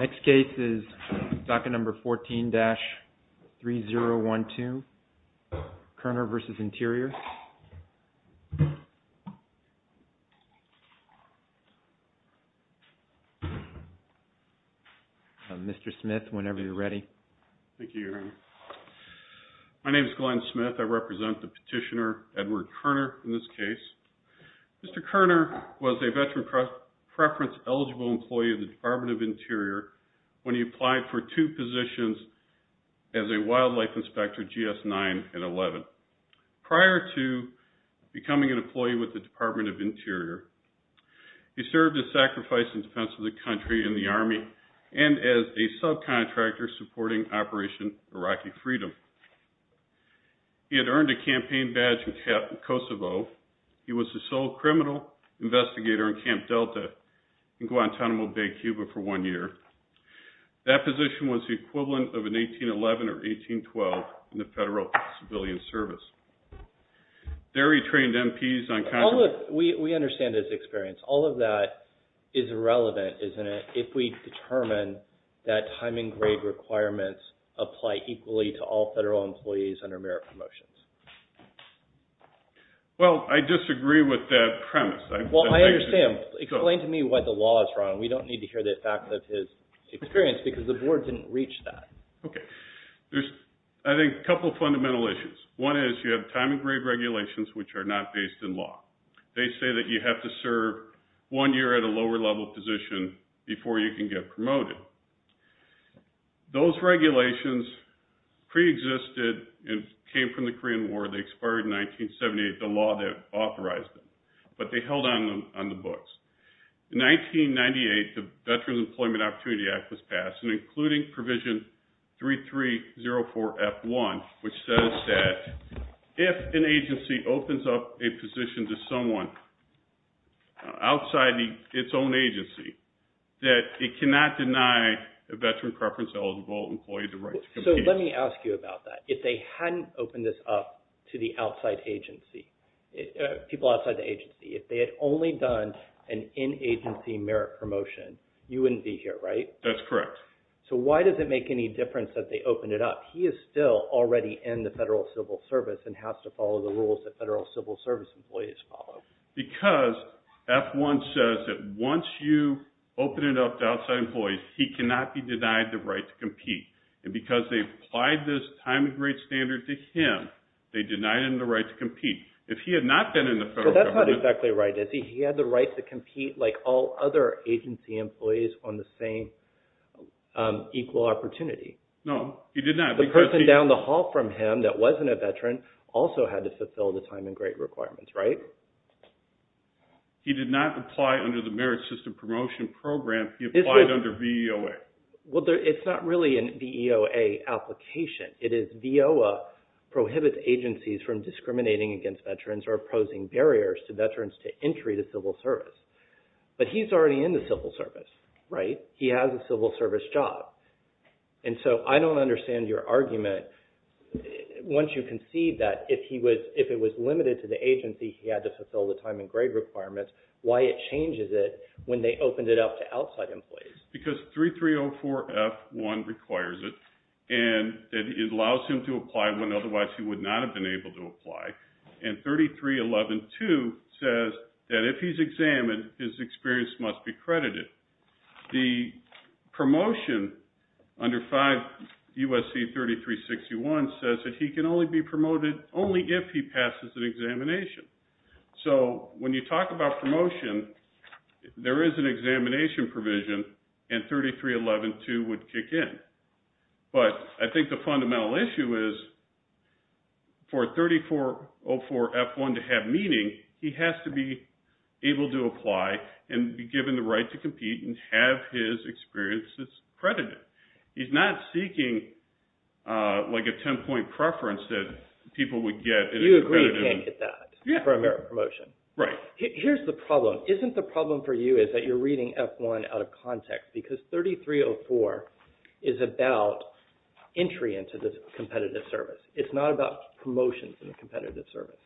Next case is docket 14-3012, Kerner v. Interior My name is Glenn Smith, I represent the petitioner Edward Kerner in this case. Mr. Kerner was a veteran preference eligible employee of the Department of Interior when he applied for two positions as a wildlife inspector, GS 9 and 11. Prior to becoming an employee with the Department of Interior, he served as sacrifice in defense of the country and the army and as a subcontractor supporting Operation Iraqi Freedom. He had earned a campaign badge in Kosovo. He was the sole criminal investigator in Camp Delta in Guantanamo Bay, Cuba for one year. That position was the equivalent of an 1811 or 1812 in the Federal Civilian Service. There he trained MPs on counter... We understand his experience. All of that is irrelevant, isn't it, if we determine that time and grade requirements apply equally to all federal employees under merit promotions. Well, I disagree with that premise. Well, I understand. Explain to me why the law is wrong. We don't need to hear the facts of his experience because the board didn't reach that. Okay. There's, I think, a couple of fundamental issues. One is you have time and grade regulations which are not based in law. They say that you have to serve one year at a lower level position before you can get promoted. Those regulations preexisted and came from the Korean War. They expired in 1978, the law that authorized them, but they held on the books. In 1998, the Veterans Employment Opportunity Act was passed, including Provision 3304F1, which says that if an agency opens up a position to someone outside its own agency, that it cannot deny a veteran preference eligible employee the right to compete. So let me ask you about that. If they hadn't opened this up to the outside agency, people outside the agency, if they had only done an in-agency merit promotion, you wouldn't be here, right? That's correct. So why does it make any difference that they opened it up? He is still already in the Federal Civil Service and has to follow the rules that Federal Civil Service employees follow. Because F1 says that once you open it up to outside employees, he cannot be denied the right to compete. And because they applied this time and grade standard to him, they denied him the right to compete. If he had not been in the Federal Government… But that's not exactly right, is he? He had the right to compete like all other agency employees on the same equal opportunity. No, he did not. The person down the hall from him that wasn't a veteran also had to fulfill the time and grade requirements, right? He did not apply under the Merit System Promotion Program. He applied under VEOA. Well, it's not really a VEOA application. It is VEOA prohibits agencies from discriminating against veterans or posing barriers to veterans to entry to civil service. But he's already in the civil service, right? He has a civil service job. And so I don't understand your argument once you concede that if he was – if it was limited to the agency, he had to fulfill the time and grade requirements, why it changes it when they opened it up to outside employees. Because 3304F1 requires it and it allows him to apply when otherwise he would not have been able to apply. And 33112 says that if he's examined, his experience must be credited. The promotion under 5 U.S.C. 3361 says that he can only be promoted only if he passes an examination. So when you talk about promotion, there is an examination provision and 33112 would kick in. But I think the fundamental issue is for 3404F1 to have meaning, he has to be able to apply and be given the right to compete and have his experiences credited. He's not seeking like a 10-point preference that people would get. You agree he can't get that for a promotion. Right. Here's the problem. Isn't the problem for you is that you're reading F1 out of context because 3304 is about entry into the competitive service. It's not about promotions in the competitive service.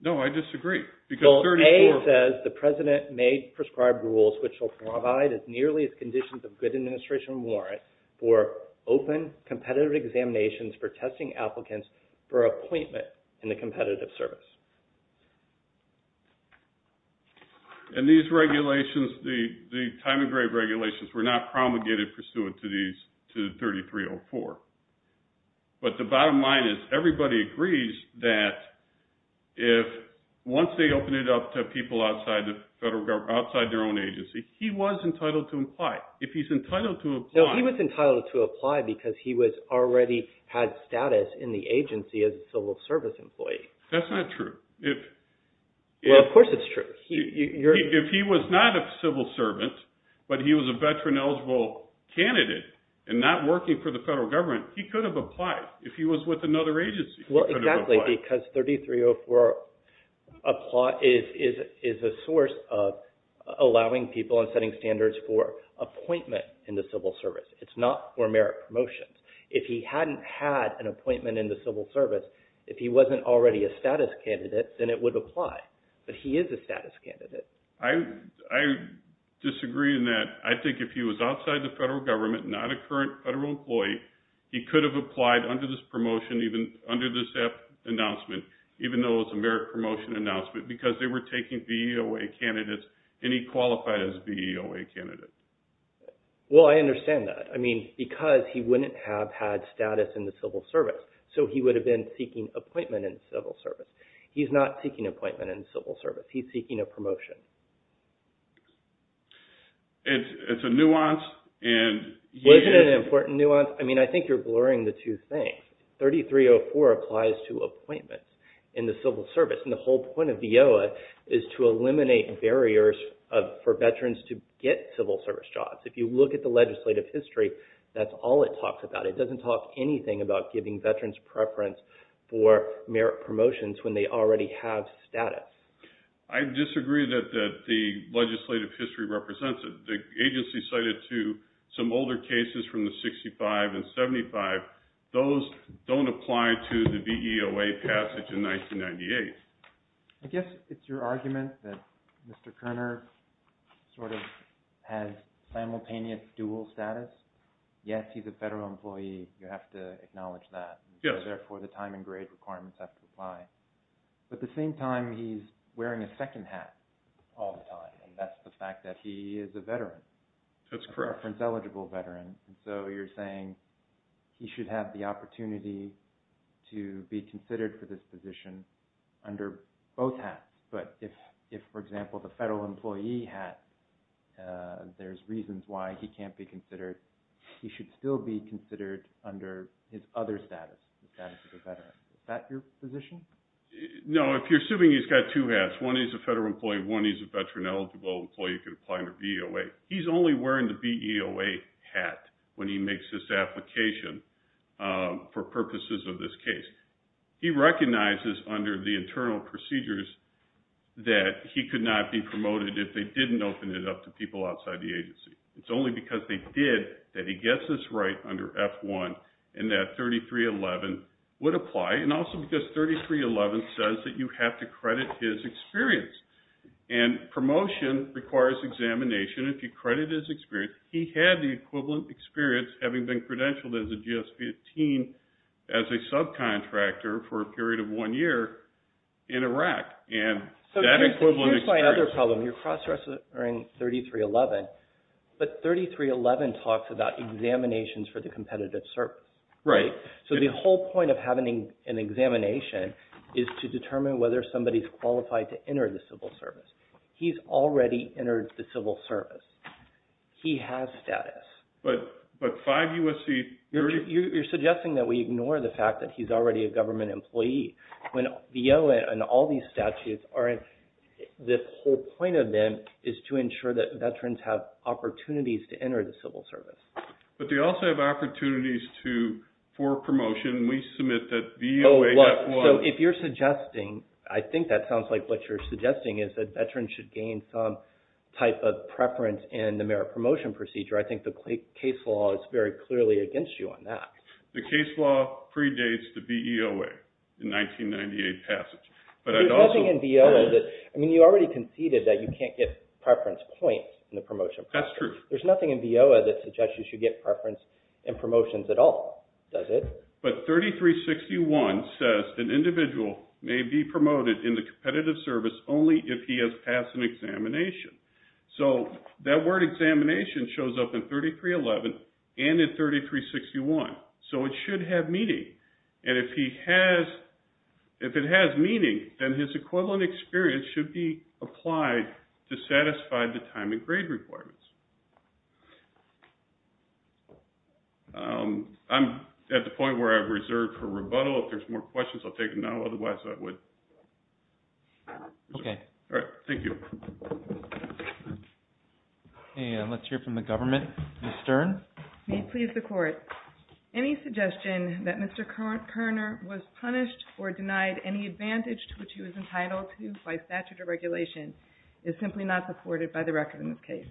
No, I disagree. Because 3304 – Bill A says the president may prescribe rules which will provide as nearly as conditions of good administration warrant for open competitive examinations for testing applicants for appointment in the competitive service. And these regulations, the time of grave regulations, were not promulgated pursuant to 3304. But the bottom line is everybody agrees that once they open it up to people outside their own agency, he was entitled to apply. If he's entitled to apply – No, he was entitled to apply because he already had status in the agency as a civil service employee. That's not true. Well, of course it's true. If he was not a civil servant but he was a veteran eligible candidate and not working for the federal government, he could have applied. If he was with another agency, he could have applied. Exactly, because 3304 is a source of allowing people and setting standards for appointment in the civil service. It's not for merit promotions. If he hadn't had an appointment in the civil service, if he wasn't already a status candidate, then it would apply. But he is a status candidate. I disagree in that I think if he was outside the federal government, not a current federal employee, he could have applied under this promotion, under this announcement, even though it's a merit promotion announcement because they were taking VEOA candidates and he qualified as a VEOA candidate. Well, I understand that. I mean, because he wouldn't have had status in the civil service, so he would have been seeking appointment in civil service. He's not seeking appointment in civil service. He's seeking a promotion. It's a nuance. Was it an important nuance? I mean, I think you're blurring the two things. 3304 applies to appointments in the civil service, and the whole point of VEOA is to eliminate barriers for veterans to get civil service jobs. If you look at the legislative history, that's all it talks about. It doesn't talk anything about giving veterans preference for merit promotions when they already have status. I disagree that the legislative history represents it. The agency cited to some older cases from the 65 and 75, those don't apply to the VEOA passage in 1998. I guess it's your argument that Mr. Kerner sort of has simultaneous dual status. Yes, he's a federal employee. You have to acknowledge that. Yes. Therefore, the time and grade requirements have to apply. But at the same time, he's wearing a second hat all the time, and that's the fact that he is a veteran. That's correct. A preference-eligible veteran. And so you're saying he should have the opportunity to be considered for this position under both hats. But if, for example, the federal employee hat, there's reasons why he can't be considered, he should still be considered under his other status, the status of a veteran. Is that your position? No. If you're assuming he's got two hats, one he's a federal employee and one he's a veteran-eligible employee who can apply under VEOA, he's only wearing the VEOA hat when he makes this application for purposes of this case. He recognizes under the internal procedures that he could not be promoted if they didn't open it up to people outside the agency. It's only because they did that he gets this right under F-1 and that 3311 would apply, and also because 3311 says that you have to credit his experience. And promotion requires examination. If you credit his experience, he had the equivalent experience, having been credentialed as a GS-15 as a subcontractor for a period of one year in Iraq. So here's my other problem. You're cross-referencing 3311, but 3311 talks about examinations for the competitive circle. Right. So the whole point of having an examination is to determine whether somebody's qualified to enter the civil service. He's already entered the civil service. He has status. But five U.S.C. You're suggesting that we ignore the fact that he's already a government employee. When VEOA and all these statutes are in, this whole point of them is to ensure that veterans have opportunities to enter the civil service. But they also have opportunities for promotion. We submit that VEOA F-1. So if you're suggesting, I think that sounds like what you're suggesting, is that veterans should gain some type of preference in the merit promotion procedure, I think the case law is very clearly against you on that. The case law predates the VEOA in 1998 passage. There's nothing in VEOA. I mean, you already conceded that you can't get preference points in the promotion process. That's true. There's nothing in VEOA that suggests you should get preference in promotions at all, does it? But 3361 says an individual may be promoted in the competitive service only if he has passed an examination. So that word examination shows up in 3311 and in 3361. So it should have meaning. And if it has meaning, then his equivalent experience should be applied to satisfy the time and grade requirements. I'm at the point where I've reserved for rebuttal. If there's more questions, I'll take them now. Otherwise, I would. Okay. All right. Thank you. Let's hear from the government. Ms. Stern. May it please the Court. Any suggestion that Mr. Kerner was punished or denied any advantage to which he was entitled to by statute or regulation is simply not supported by the record in this case.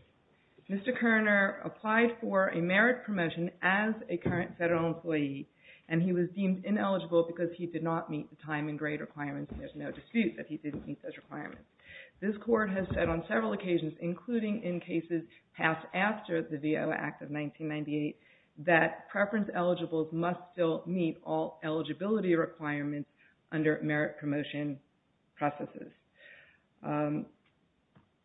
Mr. Kerner applied for a merit promotion as a current federal employee, and he was deemed ineligible because he did not meet the time and grade requirements, and there's no dispute that he didn't meet those requirements. This Court has said on several occasions, including in cases passed after the VEOA Act of 1998, that preference eligibles must still meet all eligibility requirements under merit promotion processes.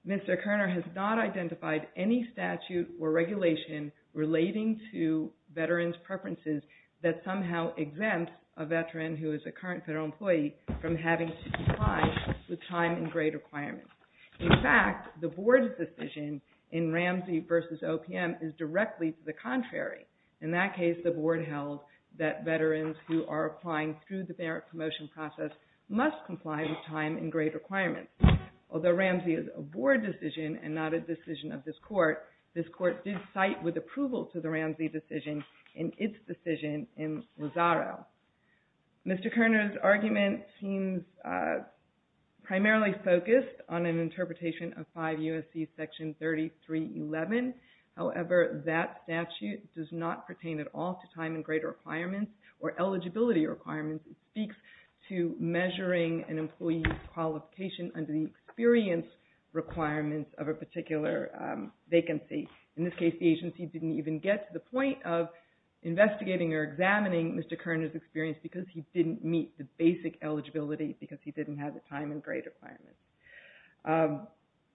Mr. Kerner has not identified any statute or regulation relating to veterans' preferences that somehow exempts a veteran who is a current federal employee from having to comply with time and grade requirements. In fact, the Board's decision in Ramsey v. OPM is directly to the contrary. In that case, the Board held that veterans who are applying through the merit promotion process must comply with time and grade requirements. Although Ramsey is a Board decision and not a decision of this Court, this Court did cite with approval to the Ramsey decision in its decision in Lozaro. Mr. Kerner's argument seems primarily focused on an interpretation of 5 U.S.C. Section 3311. However, that statute does not pertain at all to time and grade requirements or eligibility requirements. It speaks to measuring an employee's qualification under the experience requirements of a particular vacancy. In this case, the agency didn't even get to the point of investigating or examining Mr. Kerner's experience because he didn't meet the basic eligibility because he didn't have the time and grade requirements.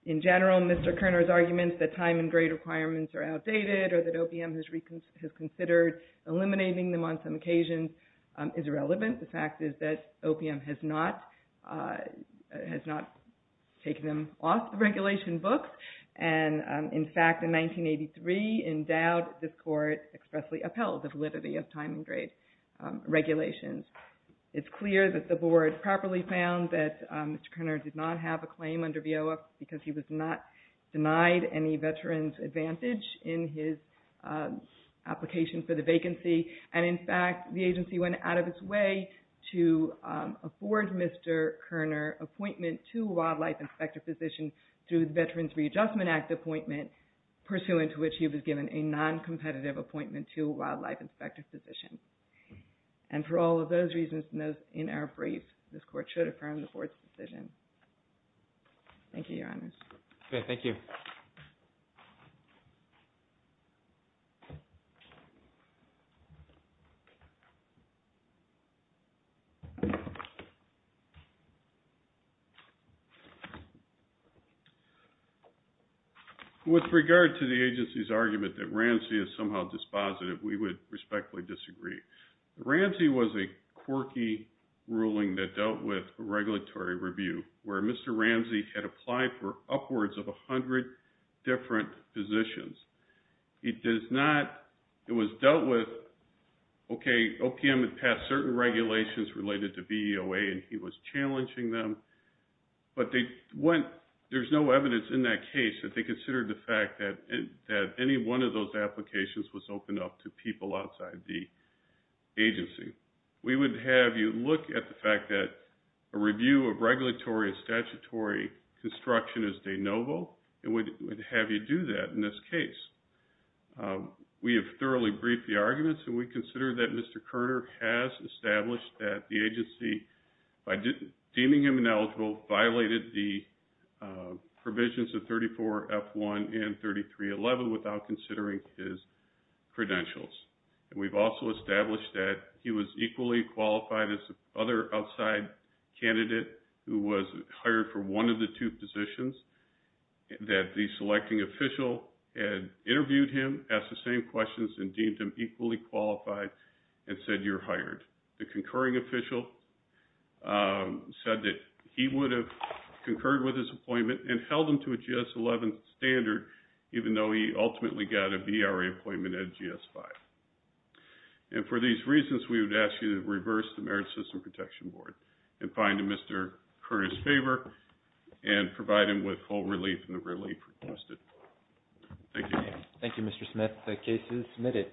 In general, Mr. Kerner's argument that time and grade requirements are outdated or that OPM has considered eliminating them on some occasions is irrelevant. The fact is that OPM has not taken them off the regulation books. In fact, in 1983, in doubt, this Court expressly upheld the validity of time and grade regulations. It's clear that the Board properly found that Mr. Kerner did not have a claim under VOF because he was not denied any veterans' advantage in his application for the vacancy. In fact, the agency went out of its way to afford Mr. Kerner appointment to a wildlife inspector position through the Veterans Readjustment Act appointment, pursuant to which he was given a non-competitive appointment to a wildlife inspector position. And for all of those reasons in our brief, this Court should affirm the Board's decision. Thank you, Your Honors. Okay, thank you. With regard to the agency's argument that Ramsey is somehow dispositive, we would respectfully disagree. Ramsey was a quirky ruling that dealt with regulatory review, where Mr. Ramsey had applied for upwards of 100 different positions. It was dealt with, okay, OPM had passed certain regulations related to VEOA and he was challenging them, but there's no evidence in that case that they considered the fact that any one of those applications was open up to people outside the agency. We would have you look at the fact that a review of regulatory and statutory construction is de novo and would have you do that in this case. We have thoroughly briefed the arguments and we consider that Mr. Kerner has established that the agency, by deeming him ineligible, violated the provisions of 34F1 and 3311 without considering his credentials. And we've also established that he was equally qualified as the other outside candidate who was hired for one of the two positions, that the selecting official had interviewed him, asked the same questions, and deemed him equally qualified and said, you're hired. The concurring official said that he would have concurred with his appointment and held him to a GS11 standard even though he ultimately got a VRE appointment at GS5. And for these reasons, we would ask you to reverse the Merit System Protection Board and find Mr. Kerner's favor and provide him with full relief in the relief requested. Thank you. Thank you, Mr. Smith. The case is submitted.